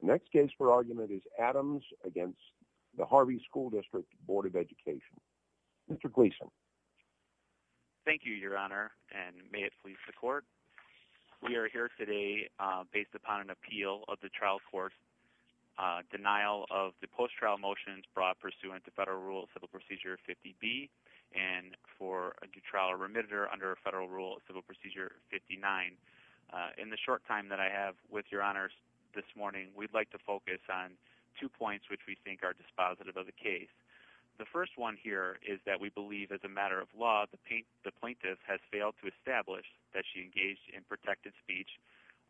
Next case for argument is Adams against the Harvey School District Board of Education. Mr. Gleason. Thank you your honor and may it please the court. We are here today based upon an appeal of the trial court. Denial of the post trial motions brought pursuant to federal rule civil procedure 50 B and for a due trial remitted or under a federal rule civil procedure 59. In the short time that I have with your honors this morning we'd like to focus on two points which we think are dispositive of the case. The first one here is that we believe as a matter of law the plaintiff has failed to establish that she engaged in protected speech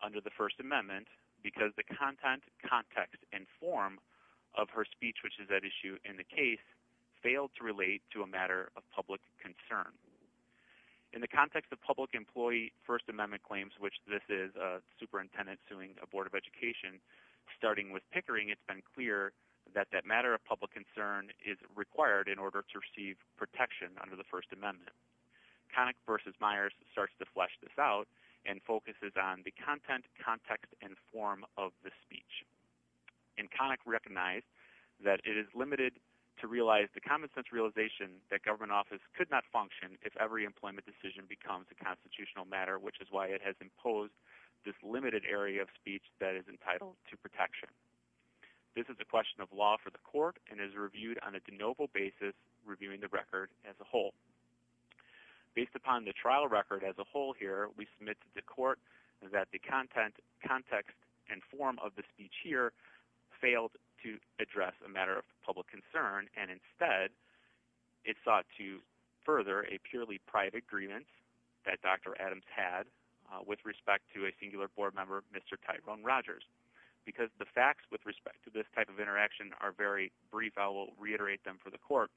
under the First Amendment because the content context and form of her speech which is at issue in the case failed to relate to a matter of public concern. In the context of public employee First Amendment claims which this is a superintendent suing a board of education starting with pickering it's been clear that that matter of public concern is required in order to receive protection under the First Amendment. Connick v. Meyers starts to flesh this out and focuses on the content context and form of the speech. And Connick recognized that it is limited to realize the common sense realization that government office could not function if every employment decision becomes a constitutional matter which is why it has imposed this limited area of speech that is entitled to protection. This is a question of law for the court and is reviewed on a de novo basis reviewing the record as a whole. Based upon the trial record as a whole here we submit to the court that the content context and form of the speech here failed to address a matter of public concern and instead it sought to further a purely private grievance that Dr. Adams had with respect to a singular board member Mr. Tyrone Rogers because the facts with respect to this type of interaction are very brief I will reiterate them for the court.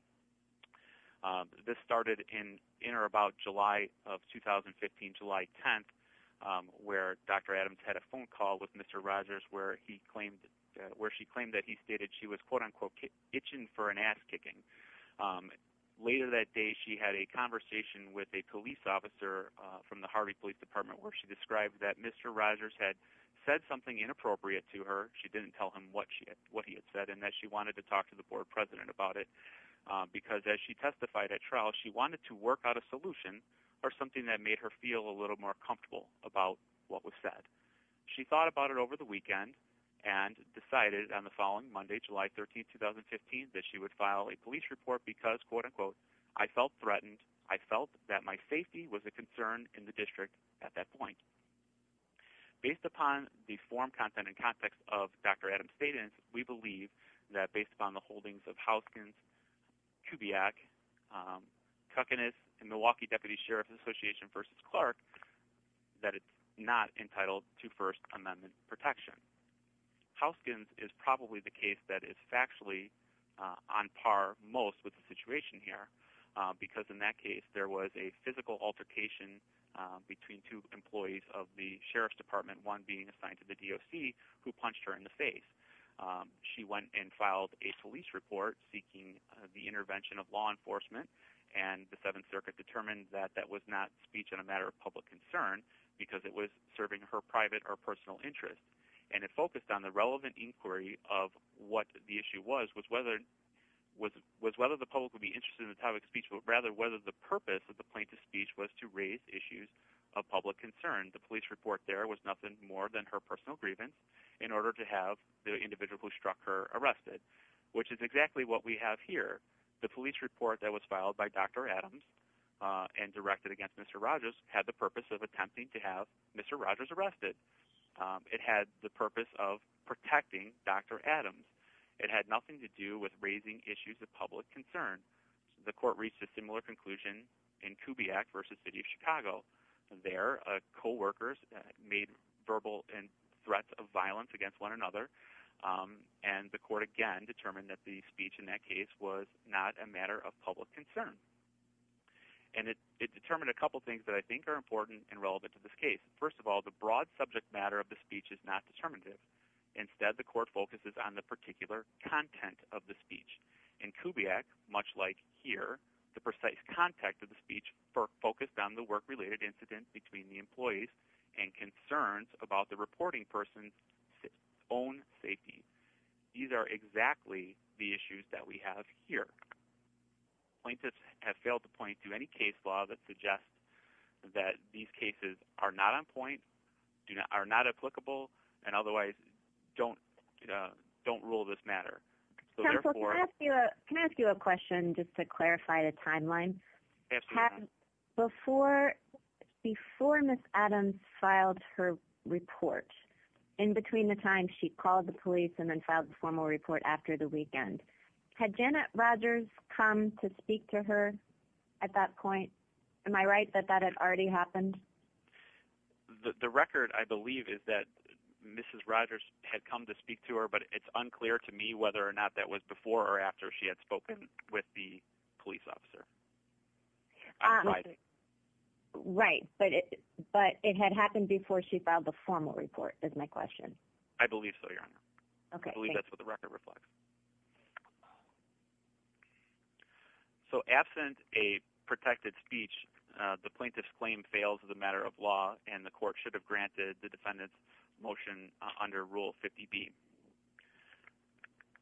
This started in in or about July of 2015 July 10th where Dr. Adams had a phone call with Mr. Rogers where he claimed where she claimed that he stated she was quote-unquote itching for an ass-kicking. Later that day she had a conversation with a police officer from the Harvey Police Department where she described that Mr. Rogers had said something inappropriate to her she didn't tell him what she had what he had said and that she wanted to talk to the board president about it because as she testified at trial she wanted to work out a solution or something that made her feel a little more comfortable about what was said. She thought about it over the weekend and decided on the following Monday July 13th 2015 that she would file a police report because quote-unquote I felt threatened I felt that my safety was a concern in the district at that point. Based upon the form content and context of Dr. Adams statement we believe that based upon the holdings of Houskins, Kubiak, Kukinis and Milwaukee Deputy Sheriff's Association versus Clark that it's not entitled to First Amendment protection. Houskins is probably the case that is factually on par most with the situation here because in that case there was a physical altercation between two employees of the Sheriff's Department one being assigned to the DOC who punched her in the face. She went and filed a police report seeking the intervention of law enforcement and the Seventh Circuit determined that that was not speech in a matter of public concern because it was serving her private or personal interest and it focused on the relevant inquiry of what the issue was was whether the public would be interested in the topic of speech but rather whether the purpose of the plaintiff's speech was to raise issues of public concern. The police report there was nothing more than her personal grievance in order to have the individual who struck her arrested which is exactly what we have here. The police report that was filed by Dr. Adams and directed against Mr. Rogers had the purpose of attempting to have Mr. Rogers arrested. It had the purpose of protecting Dr. Adams. It had nothing to do with raising issues of public concern. The court reached a similar conclusion in Kubiak versus City of Chicago. There co-workers made verbal threats of violence against one another and the court again determined that the speech in that case was not a matter of public concern and it determined a couple things that I think are important and relevant to this case. First of all the broad subject matter of the speech is not determinative. Instead the court focuses on the particular content of the speech and Kubiak, much like here, the precise context of the speech focused on the work-related incidents between the employees and concerns about the the issues that we have here. Plaintiffs have failed to point to any case law that suggests that these cases are not on point, are not applicable, and otherwise don't rule this matter. Can I ask you a question just to clarify the timeline? Absolutely. Before Ms. Adams filed her report in between the time she called the police and then filed the formal report after the weekend, had Janet Rodgers come to speak to her at that point? Am I right that that had already happened? The record I believe is that Mrs. Rodgers had come to speak to her but it's unclear to me whether or not that was before or after she had spoken with the police officer. Right, but it had happened before she filed the formal report is my question. I believe so, Your So absent a protected speech, the plaintiff's claim fails as a matter of law and the court should have granted the defendant's motion under Rule 50B.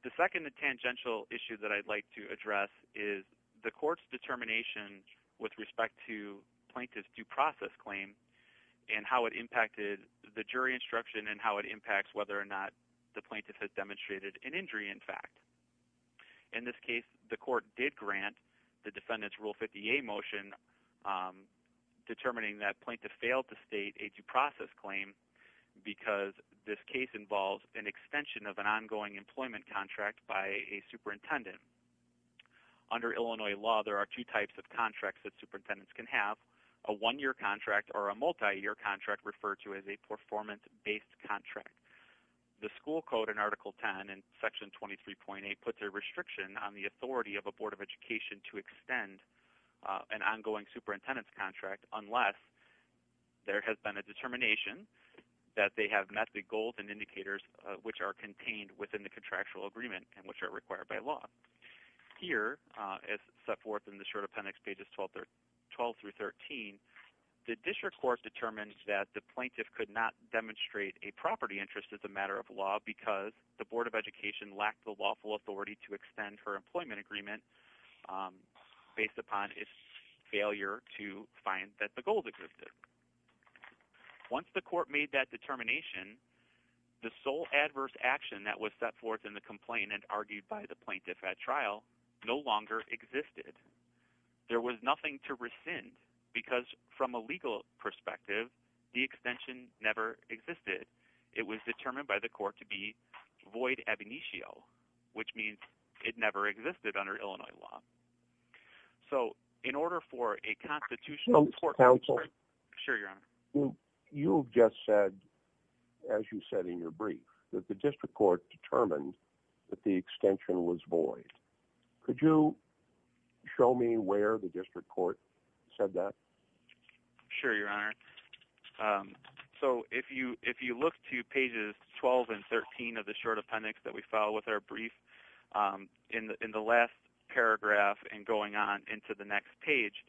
The second tangential issue that I'd like to address is the court's determination with respect to plaintiff's due process claim and how it impacted the jury instruction and how it impacts whether or not the plaintiff has a one-year contract. In this case, the court did grant the defendant's Rule 50A motion determining that plaintiff failed to state a due process claim because this case involves an extension of an ongoing employment contract by a superintendent. Under Illinois law, there are two types of contracts that superintendents can have. A one-year contract or a multi-year contract referred to as a performance-based contract. The school code in Article 10 and Section 23.8 puts a restriction on the authority of a Board of Education to extend an ongoing superintendent's contract unless there has been a determination that they have met the goals and indicators which are contained within the contractual agreement and which are required by law. Here, as set forth in the short appendix pages 12 through 13, the district court determined that the plaintiff could not demonstrate a property interest as a Board of Education lacked the lawful authority to extend her employment agreement based upon its failure to find that the goals existed. Once the court made that determination, the sole adverse action that was set forth in the complaint and argued by the plaintiff at trial no longer existed. There was nothing to rescind because from a legal perspective, the extension never existed. It was determined by the court to be void ab initio, which means it never existed under Illinois law. So in order for a constitutional court to... You've just said, as you said in your brief, that the district court determined that the extension was void. Could you show me where the district court said that? Sure, Your Honor. So if you look to pages 12 and 13 of the short appendix that we follow with our brief, in the last paragraph and going on into the next page,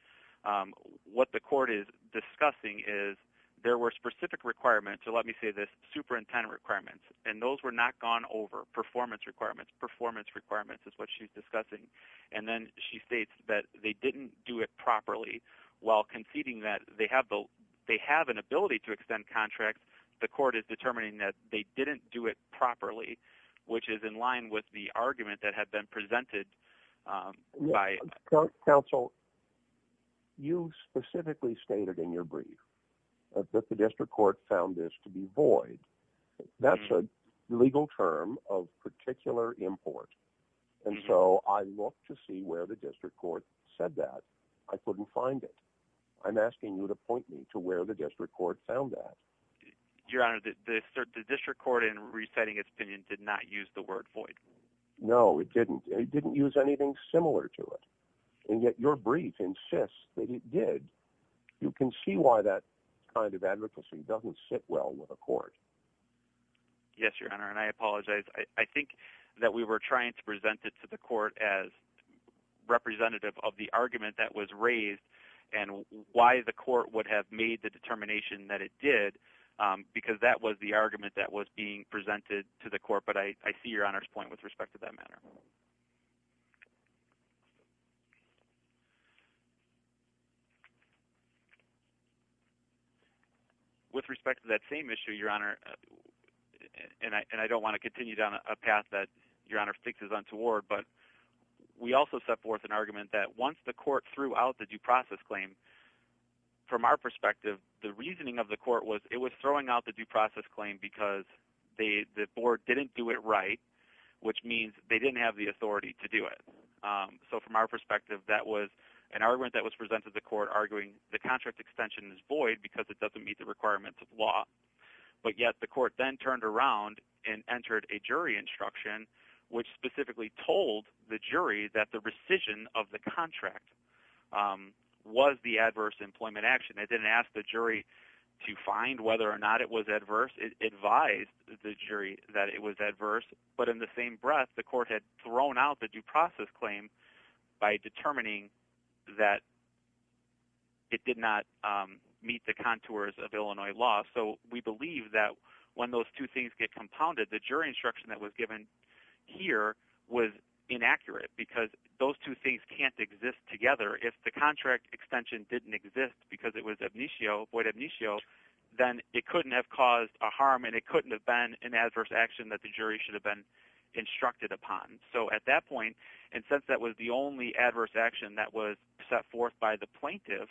what the court is discussing is there were specific requirements, so let me say this, superintendent requirements, and those were not gone over. Performance requirements. Performance requirements is what she's discussing. And then she states that they didn't do it properly while conceding that they have an ability to extend contracts. The court is determining that they didn't do it properly, which is in line with the argument that had been presented by... Counsel, you specifically stated in your brief that the district court found this to be void. That's a legal term of particular import, and so I look to see where the district court said that. I couldn't find it. I'm asking you to point me to where the district court found that. Your Honor, the district court in reciting its opinion did not use the word void. No, it didn't. It didn't use anything similar to it, and yet your brief insists that it did. You can see why that kind of advocacy doesn't sit well with a court. Yes, your Honor, and I apologize. I think that we were trying to present it to the court as representative of the argument that was raised and why the court would have made the determination that it did, because that was the argument that was being presented to the court, but I see your Honor's point with respect to that matter. With respect to that same issue, your Honor, and I don't want to continue down a path that your Honor fixes untoward, but we also set forth an argument that once the court threw out the due process claim, from our perspective, the reasoning of the court was it was throwing out the due process claim because the board didn't do it right, which means they didn't have the authority to do it. So from our perspective, that was an argument that was presented to the court arguing the contract extension is void because it doesn't meet the requirements of law, but yet the court then turned around and entered a jury instruction which specifically told the jury that the rescission of the contract was the adverse employment action. It didn't ask the jury to find whether or not it was adverse, but in the same breath, the court had thrown out the due process claim by determining that it did not meet the contours of Illinois law. So we believe that when those two things get compounded, the jury instruction that was given here was inaccurate because those two things can't exist together. If the contract extension didn't exist because it was void abnatio, then it couldn't have caused a harm and it couldn't have been an issue that the jury should have been instructed upon. So at that point, and since that was the only adverse action that was set forth by the plaintiff,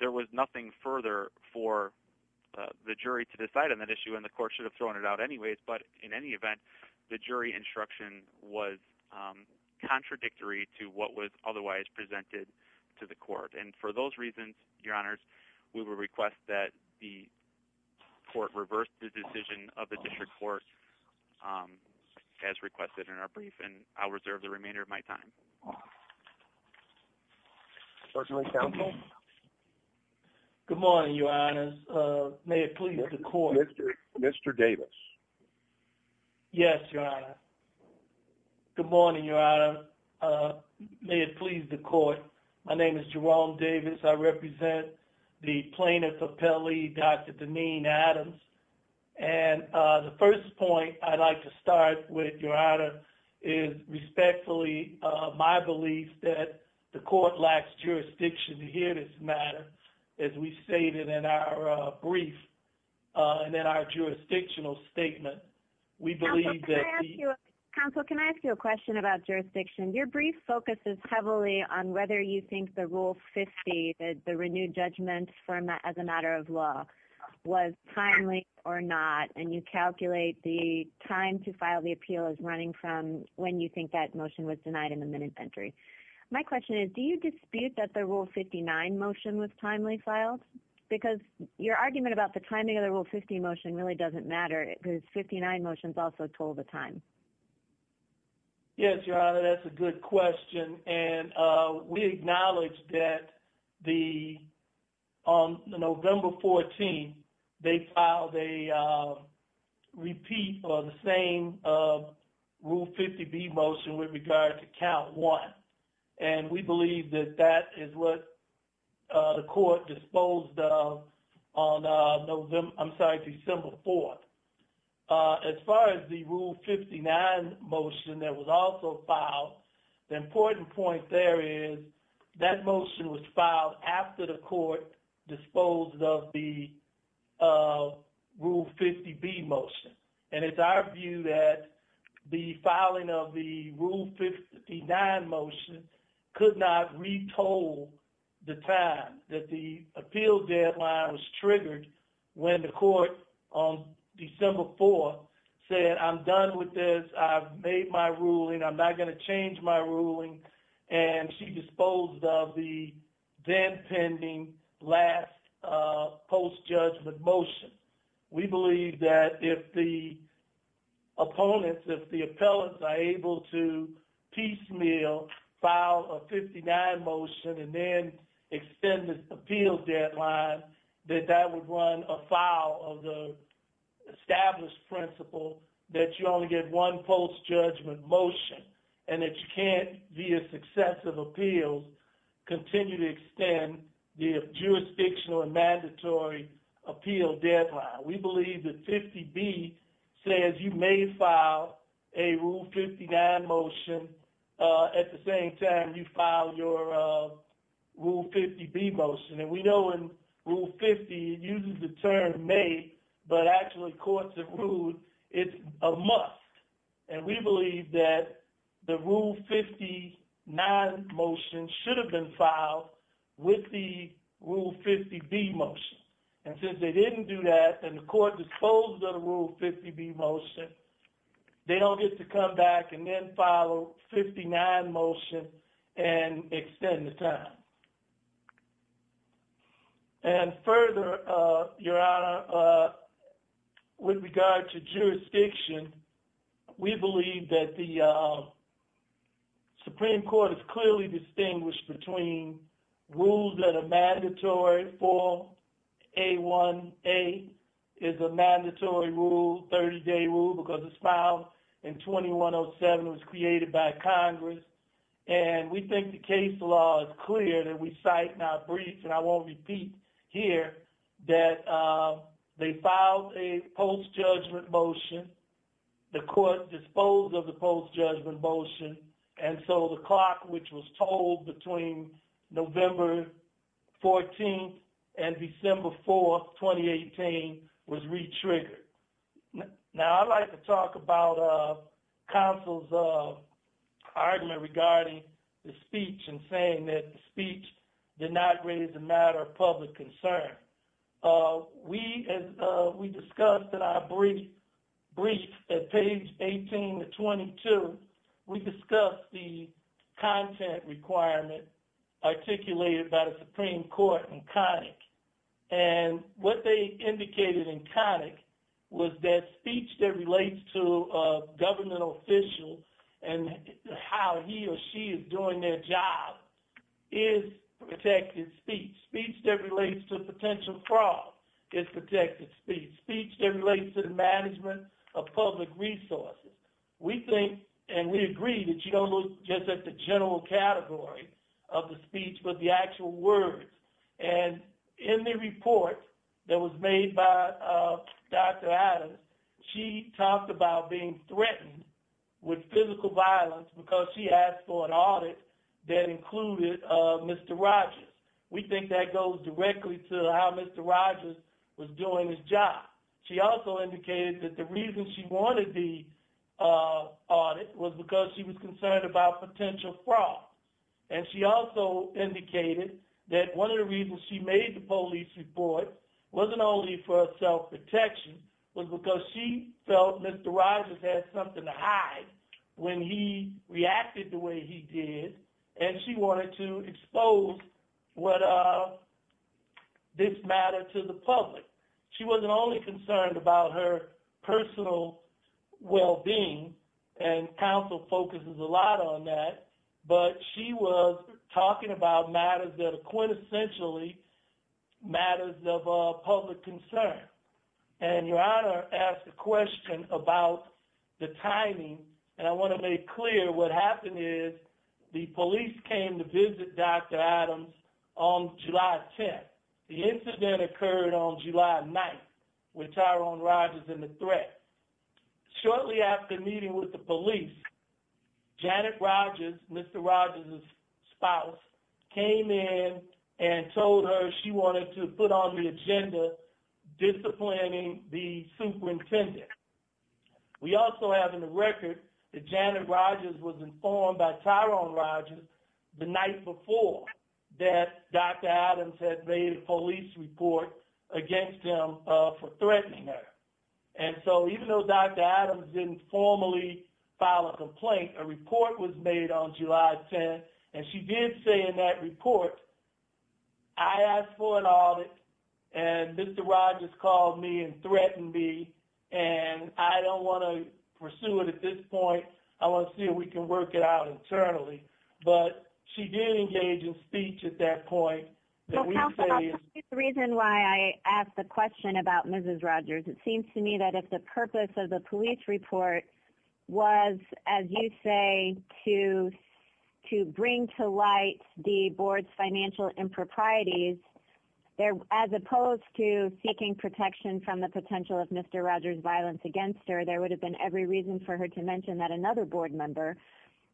there was nothing further for the jury to decide on that issue and the court should have thrown it out anyways, but in any event, the jury instruction was contradictory to what was otherwise presented to the court. And for those reasons, your honors, we will request that the court reverse the decision of the court as requested in our brief and I'll reserve the remainder of my time. Good morning, your honors. May it please the court. Mr. Davis. Yes, your honor. Good morning, your honor. May it please the court. My name is Jerome Davis. I would like to start with your honor is respectfully my belief that the court lacks jurisdiction to hear this matter as we stated in our brief and then our jurisdictional statement. Counsel, can I ask you a question about jurisdiction? Your brief focuses heavily on whether you think the Rule 50, the renewed judgment from that as a matter of law, was timely or not and you calculate the time to file the appeal as running from when you think that motion was denied in the minute entry. My question is, do you dispute that the Rule 59 motion was timely filed? Because your argument about the timing of the Rule 50 motion really doesn't matter because 59 motions also told the time. Yes, your honor, that's a good question and we acknowledge that the, on November 14th, they filed a repeat for the same Rule 50B motion with regard to count one and we believe that that is what the court disposed of on, I'm sorry, December 4th. As far as the Rule 59 motion that was also filed, the important point there is that motion was filed after the court disposed of the Rule 50B motion and it's our view that the filing of the Rule 59 motion could not retold the time that the appeal deadline was triggered when the court on December 4th said, I'm done with this, I've made my ruling, I'm not going to change my ruling, and she disposed of the then pending last post-judgment motion. We believe that if the opponents, if the appellants are able to piecemeal file a 59 motion and then extend this appeal deadline, that that would run afoul of the established principle that you only get one post-judgment motion and that you can't, via successive appeals, continue to extend the jurisdictional and mandatory appeal deadline. We believe that 50B says you may file a Rule 59 motion at the same time you file your Rule 50B motion and we know in Rule 50, it uses the term may, but actually courts have ruled it's a must and we believe that the Rule 59 motion should have been filed with the Rule 50B motion and since they didn't do that and the court disposed of the Rule 50B motion, they don't get to come back and then follow Rule 59 motion and extend the time. And further, Your Honor, with regard to jurisdiction, we believe that the Supreme Court is clearly distinguished between rules that are mandatory for A1A is a mandatory rule, 30-day rule, because it's filed in 2107, was created by Congress, and we think the case law is clear that we cite not breach and I won't repeat here that they filed a post-judgment motion, the court disposed of the post-judgment motion, and so the clock which was told between November 14th and December 4th, 2018, was re-triggered. Now I'd like to talk about counsel's argument regarding the speech and saying that the speech did not raise a matter of public concern. We discussed in our brief at page 18 to 22, we discussed the content requirement articulated by the Supreme Court in Connick and what they indicated in Connick was that speech that relates to a governmental official and how he or she is doing their job is protected speech. Speech that relates to potential fraud is protected speech. Speech that relates to the management of public resources. We think and we agree that you don't look just at the general category of the speech but the actual words and in the report that was made by Dr. Adams, she talked about being threatened with physical violence because she asked for an audit that included Mr. Rogers. We think that goes directly to how Mr. Rogers was doing his job. She also indicated that the reason she wanted the audit was because she was concerned about potential fraud and she also indicated that one of the reasons she made the police report wasn't only for self-protection was because she felt Mr. Rogers had something to hide when he wanted to expose this matter to the public. She wasn't only concerned about her personal well-being and counsel focuses a lot on that but she was talking about matters that are quintessentially matters of public concern and your honor asked a question about the timing and I want to make clear what happened is the police came to visit Dr. Adams on July 10th. The incident occurred on July 9th with Tyrone Rogers and the threat. Shortly after meeting with the police, Janet Rogers, Mr. Rogers' spouse, came in and told her she wanted to put on the agenda disciplining the superintendent. We also have in the record that Janet Rogers was informed by Tyrone Rogers the night before that Dr. Adams had made a police report against him for threatening her. And so even though Dr. Adams didn't formally file a complaint, a report was made on July 10th and she did say in that report, I asked for an audit and Mr. and I don't want to pursue it at this point. I want to see if we can work it out internally. But she did engage in speech at that point. The reason why I asked the question about Mrs. Rogers, it seems to me that if the purpose of the police report was, as you say, to bring to light the board's financial improprieties, as opposed to seeking protection from the potential of Mr. Rogers' violence against her, there would have been every reason for her to mention that another board member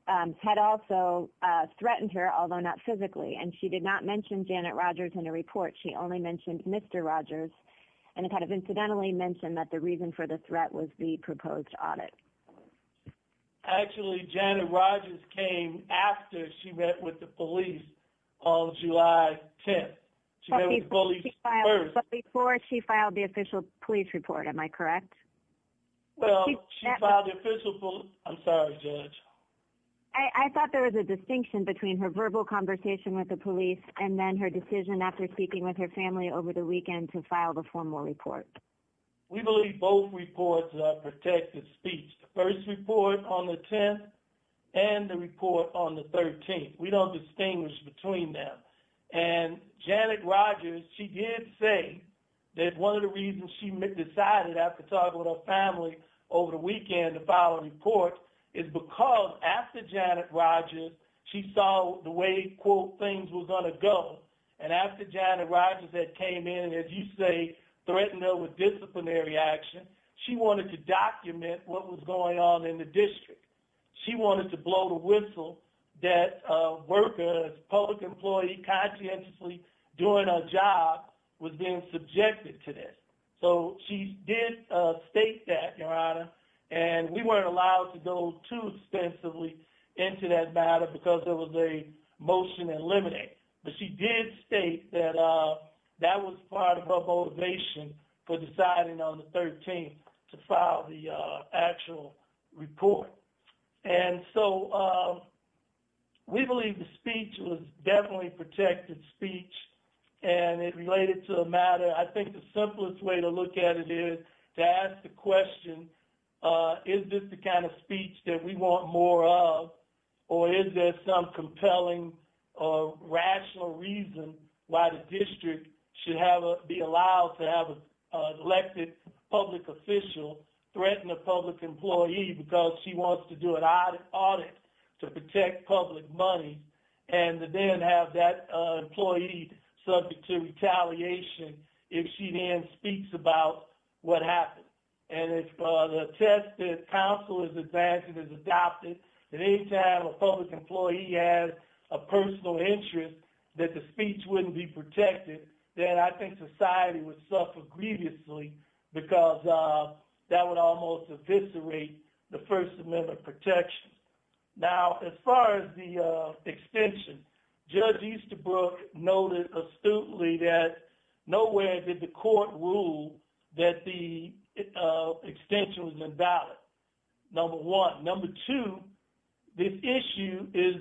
had also threatened her, although not physically. And she did not mention Janet Rogers in a report. She only mentioned Mr. Rogers and kind of incidentally mentioned that the reason for the threat was the proposed audit. Actually, Janet Rogers came after she met with the police on July 10th. Before she filed the official police report, am I correct? I'm sorry, Judge. I thought there was a distinction between her verbal conversation with the police and then her decision after speaking with her family over the weekend to file the formal report. We believe both reports are protected speech. The first report on the 10th and the report on the 13th. We don't distinguish between them. And Janet Rogers, she did say that one of the reasons she decided after talking with her family over the weekend to file a report is because after Janet Rogers, she saw the way, quote, things were going to go. And after Janet Rogers had came in, as you say, threatened her with disciplinary action, she wanted to document what was going on in the district. She wanted to make sure that every worker, public employee conscientiously doing a job was being subjected to this. So she did state that, Your Honor, and we weren't allowed to go too extensively into that matter because it was a motion to eliminate. But she did state that that was part of her motivation for deciding on the 13th to actual report. And so we believe the speech was definitely protected speech. And it related to a matter, I think the simplest way to look at it is to ask the question, is this the kind of speech that we want more of? Or is there some compelling or rational reason why the district should have be allowed to have elected public official threaten a public employee because she wants to do an audit to protect public money and then have that employee subject to retaliation if she then speaks about what happened? And if the test that counsel is advancing is adopted, at any time a public employee has a personal interest that the speech wouldn't be protected, then I think society would suffer grievously because that would almost eviscerate the First Amendment protection. Now, as far as the extension, Judge Easterbrook noted astutely that nowhere did the court rule that the extension was invalid, number one. Number two, this issue is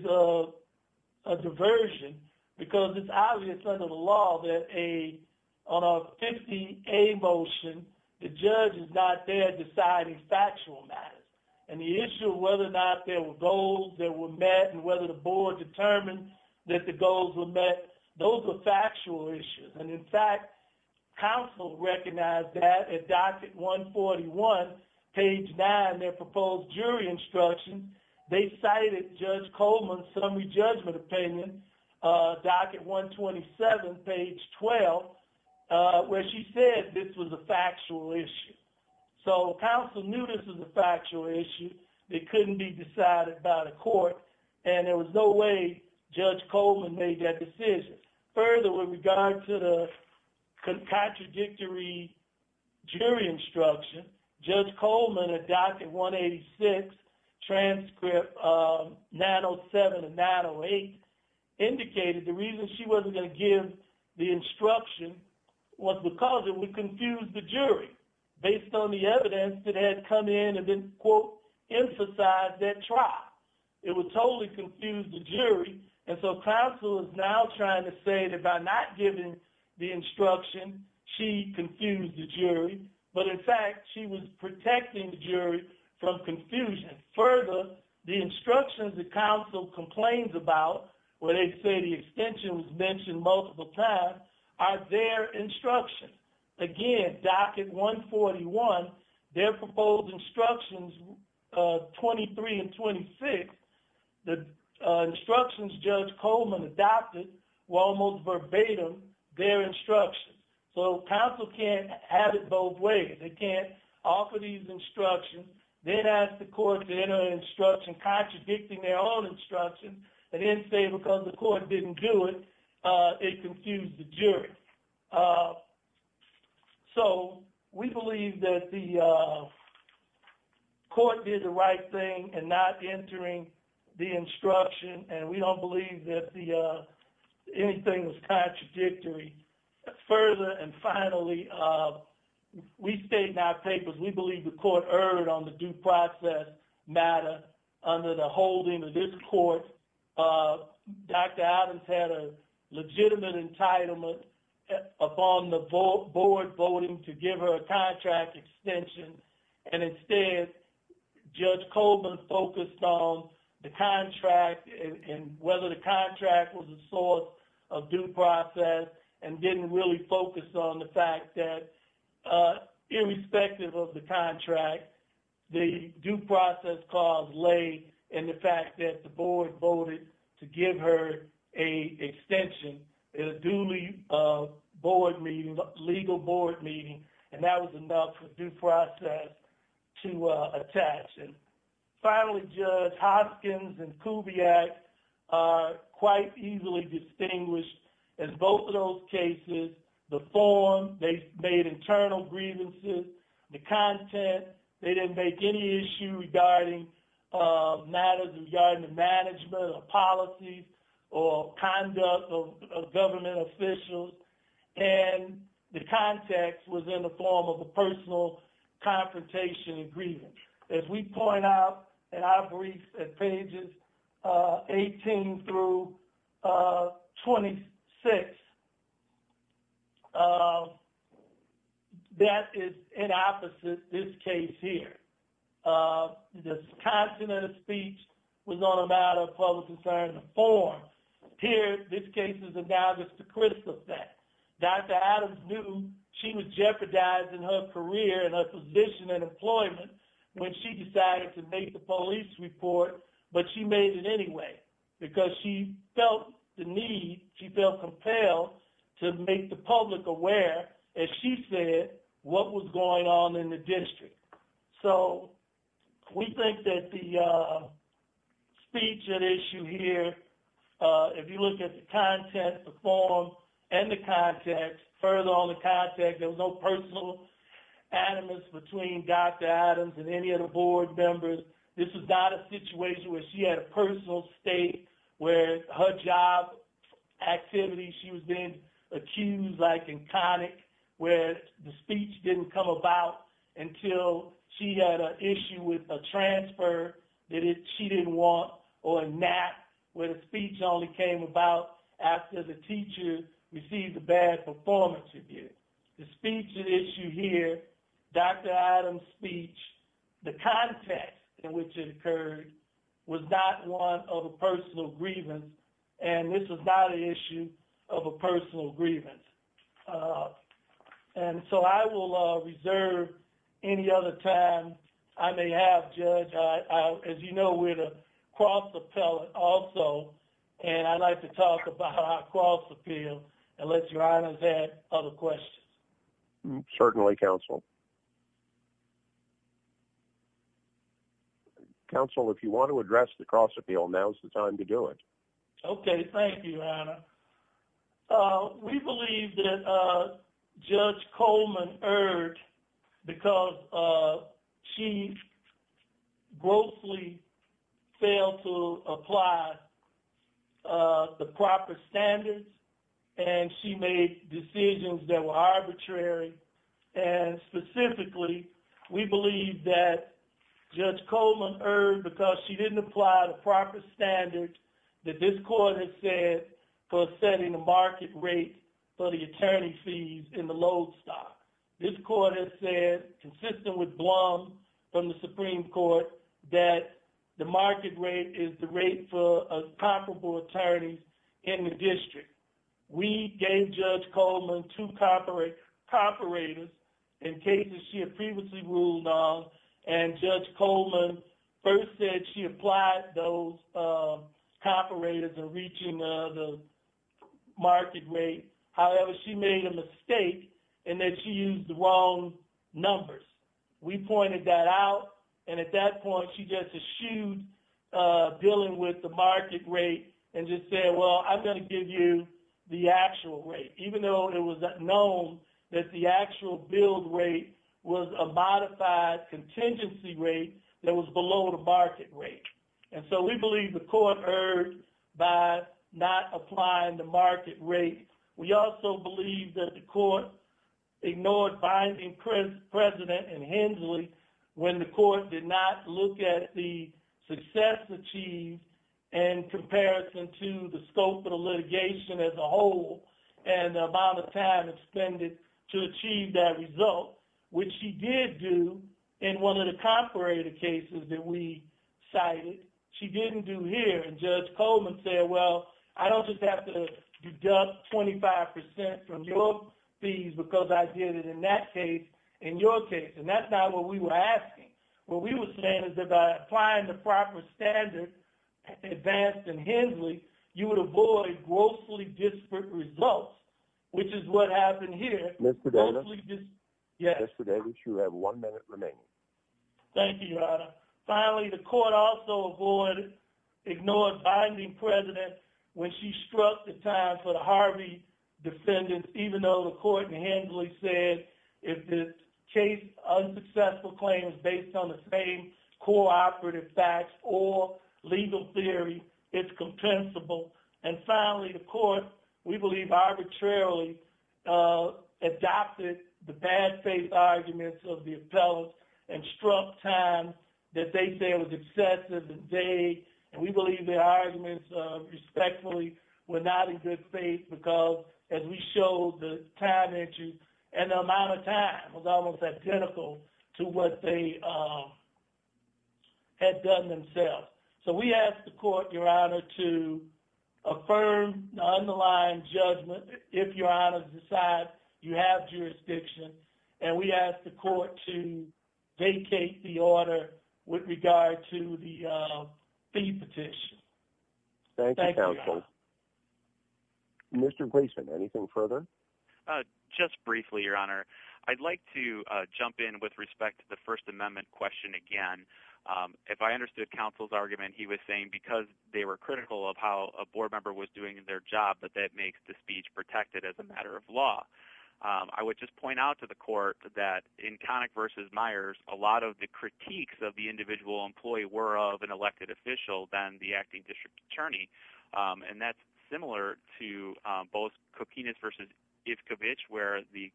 a diversion because it's obvious under the law that on a 50-A motion, the judge is not there deciding factual matters. And the issue of whether or not there were goals that were met and whether the board determined that the goals were met, those are factual issues. And in fact, counsel recognized that at Docket 141, page 9, their proposed jury instruction, they cited Judge Coleman's summary judgment opinion, Docket 127, page 12, where she said this was a factual issue. So counsel knew this was a factual issue, it couldn't be decided by the court, and there was no way Judge Coleman made that decision. Further, with regard to the contradictory jury instruction, Judge Coleman at Docket 186, transcript 907 and 908, indicated the reason she wasn't going to give the instruction was because it would confuse the jury, based on the evidence that had come in and then, quote, emphasized that trial. It would totally confuse the jury, and so counsel is now trying to say that by not giving the instruction, she confused the jury. But in fact, she was protecting the jury from confusion. Further, the things about, where they say the extension was mentioned multiple times, are their instructions. Again, Docket 141, their proposed instructions, 23 and 26, the instructions Judge Coleman adopted were almost verbatim their instructions. So counsel can't have it both ways. They can't offer these instructions, then ask the court to enter an instruction contradicting their own instruction, and then say because the court didn't do it, it confused the jury. So we believe that the court did the right thing in not entering the instruction, and we don't believe that anything was contradictory. Further, and finally, we state in our due process matter, under the holding of this court, Dr. Adams had a legitimate entitlement upon the board voting to give her a contract extension, and instead, Judge Coleman focused on the contract, and whether the contract was a source of due process, and didn't really focus on the fact that, irrespective of the contract, the due process cause lay in the fact that the board voted to give her a extension in a duly board meeting, legal board meeting, and that was enough for due process to attach. And finally, Judge Hoskins and Kubiak are quite easily distinguished in both of those cases. The form, they made internal grievances. The content, they didn't make any issue regarding matters regarding management, or policies, or conduct of government officials, and the context was in the form of a personal confrontation and grievance. As we point out in our briefs in pages 18 through 26, that is in opposite this case here. The content of the speech was on a matter of public concern in the form. Here, this case is analogous to Crystal's case. Dr. Adams knew she was jeopardizing her career, and her position in employment, when she decided to make the police report, but she made it anyway, because she felt the need, she felt compelled to make the public aware, as she said, what was going on in the district. So, we think that the speech at issue here, if you look at the content, the form, and the context, further on the context, there was no personal animus between Dr. Adams and any of the board members. This is not a situation where she had a personal state, where her job activity, she was being accused, like in Connick, where the speech didn't come about until she had an issue with a transfer that she didn't want, or a nap, where the speech only came about after the teacher received a bad performance review. The speech at issue here, Dr. Adams' speech, the context in which it occurred, was not one of a personal grievance, and this was not an issue of a personal grievance. And so, I will reserve any other time I may have, Judge. As you know, we're the cross appellate also, and I'd like to talk about our cross appeal, unless your honor has other questions. Certainly, counsel. Counsel, if you want to address the cross appeal, now's the time to do it. Okay, thank you, your honor. We believe that Judge Coleman erred because she grossly failed to apply the proper standards, and she made decisions that were arbitrary, and specifically, we believe that Judge Coleman erred because she didn't apply the proper standards that this court has said for setting a market rate for the attorney fees in the load stock. This court has said, consistent with Blum from the Supreme Court, that the market rate is the rate for a comparable attorneys in the district. We gave Judge Coleman two co-operators in cases she had previously ruled on, and Judge Coleman first said she applied those co-operators in reaching the market rate. However, she made a mistake in that she used the numbers. We pointed that out, and at that point, she just eschewed dealing with the market rate and just said, well, I'm going to give you the actual rate, even though it was known that the actual billed rate was a modified contingency rate that was below the market rate, and so we believe the court erred by not applying the precedent in Hensley when the court did not look at the success achieved in comparison to the scope of the litigation as a whole and the amount of time expended to achieve that result, which she did do in one of the co-operator cases that we cited. She didn't do here, and Judge Coleman said, well, I don't just have to deduct 25% from your fees because I did it in that case in your case, and that's not what we were asking. What we were saying is that by applying the proper standard advanced in Hensley, you would avoid grossly disparate results, which is what happened here. Mr. Davis? Yes. Mr. Davis, you have one minute remaining. Thank you, Your Honor. Finally, the court also ignored a binding president when she struck the time for the Harvey defendants, even though the court in Hensley said, if the case's unsuccessful claim is based on the same co-operative facts or legal theory, it's compensable. And finally, the court, we believe, arbitrarily adopted the bad-faith arguments of the appellants and struck time that they say was excessive and vague, and we believe their arguments, respectfully, were not in good faith because, as we showed, the time entry and the amount of time was almost identical to what they had done themselves. So we asked the court, Your Honor, to affirm the underlying judgment if, Your Honor, you decide you have to defer to the fee petition. Thank you, counsel. Mr. Gleason, anything further? Just briefly, Your Honor. I'd like to jump in with respect to the First Amendment question again. If I understood counsel's argument, he was saying because they were critical of how a board member was doing in their job that that makes the speech protected as a matter of law. I would just point out to the court that in Connick v. Myers, a lot of the comments that were made were of an elected official than the acting district attorney, and that's similar to both Kokinas v. Ivkovich, where the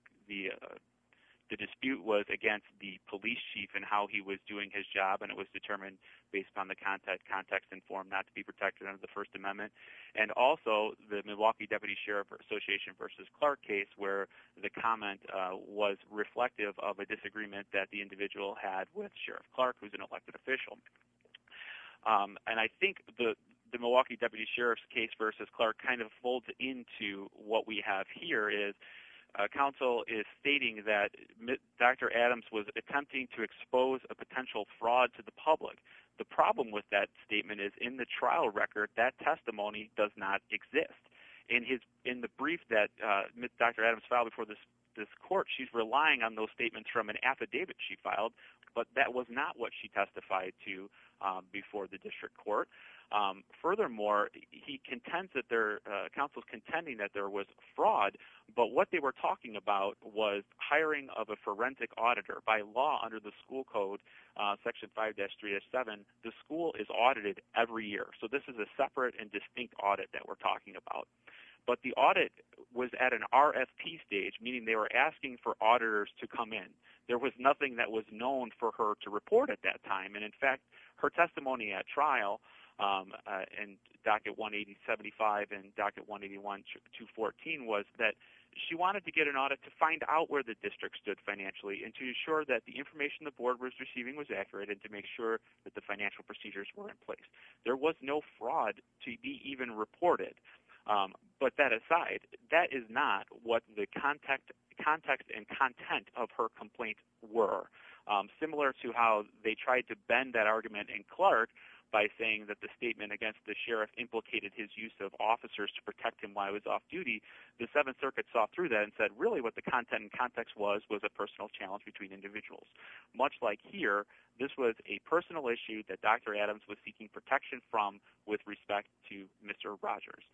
dispute was against the police chief and how he was doing his job, and it was determined based on the context and form not to be protected under the First Amendment, and also the Milwaukee Deputy Sheriff Association v. Clark case, where the comment was reflective of a disagreement that the individual had with Sheriff Clark, who's an elected official. And I think the Milwaukee Deputy Sheriff's case v. Clark kind of folds into what we have here, is counsel is stating that Dr. Adams was attempting to expose a potential fraud to the public. The problem with that statement is in the trial record, that testimony does not exist. In the brief that Dr. Adams filed before this court, she's relying on those testified to before the district court. Furthermore, he contends that their counsel's contending that there was fraud, but what they were talking about was hiring of a forensic auditor. By law, under the school code, Section 5-3-7, the school is audited every year. So this is a separate and distinct audit that we're talking about. But the audit was at an RFP stage, meaning they were asking for auditors to come in. There was nothing that was known for her to report at that time. And in fact, her testimony at trial in Docket 1-80-75 and Docket 1-81-214 was that she wanted to get an audit to find out where the district stood financially, and to ensure that the information the board was receiving was accurate, and to make sure that the financial procedures were in place. There was no fraud to be even reported. But that aside, that is not what the context and content of her complaint were. Similar to how they tried to bend that argument in Clark by saying that the statement against the sheriff implicated his use of officers to protect him while he was off duty, the Seventh Circuit saw through that and said really what the content and context was was a personal challenge between individuals. Much like here, this was a personal issue that Dr. Adams was seeking protection from with respect to Mr. Rogers.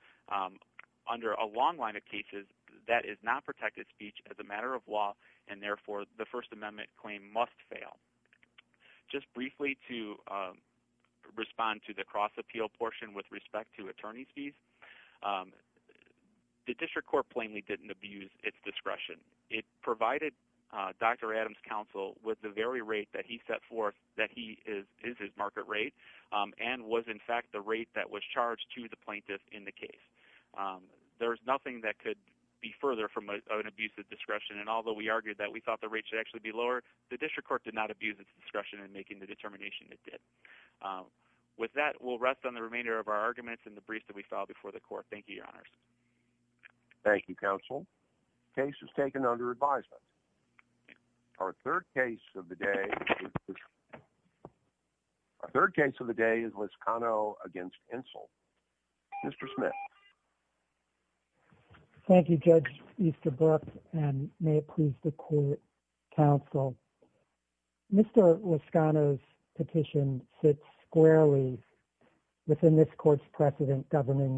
Under a long line of cases, that is not protected speech as a matter of law, and therefore the First Amendment claim must fail. Just briefly to respond to the cross-appeal portion with respect to attorney's fees, the district court plainly didn't abuse its discretion. It provided Dr. Adams' counsel with the very rate that he set forth that he is his market rate, and was in fact the rate that was charged to the plaintiff in the case. There's nothing that could be further from an abusive discretion, and although we argued that we thought the rate should actually be lower, the district court did not abuse its discretion in making the determination it did. With that, we'll rest on the remainder of our arguments and the briefs that we filed before the court. Thank you, Your Honors. Thank you, counsel. Case is taken under advisement. Our third case of the day is Liscano against Insul. Mr. Smith. Thank you, Judge Easterbrook, and may it please the court, counsel. Mr. Liscano's petition sits squarely within this court's precedent governing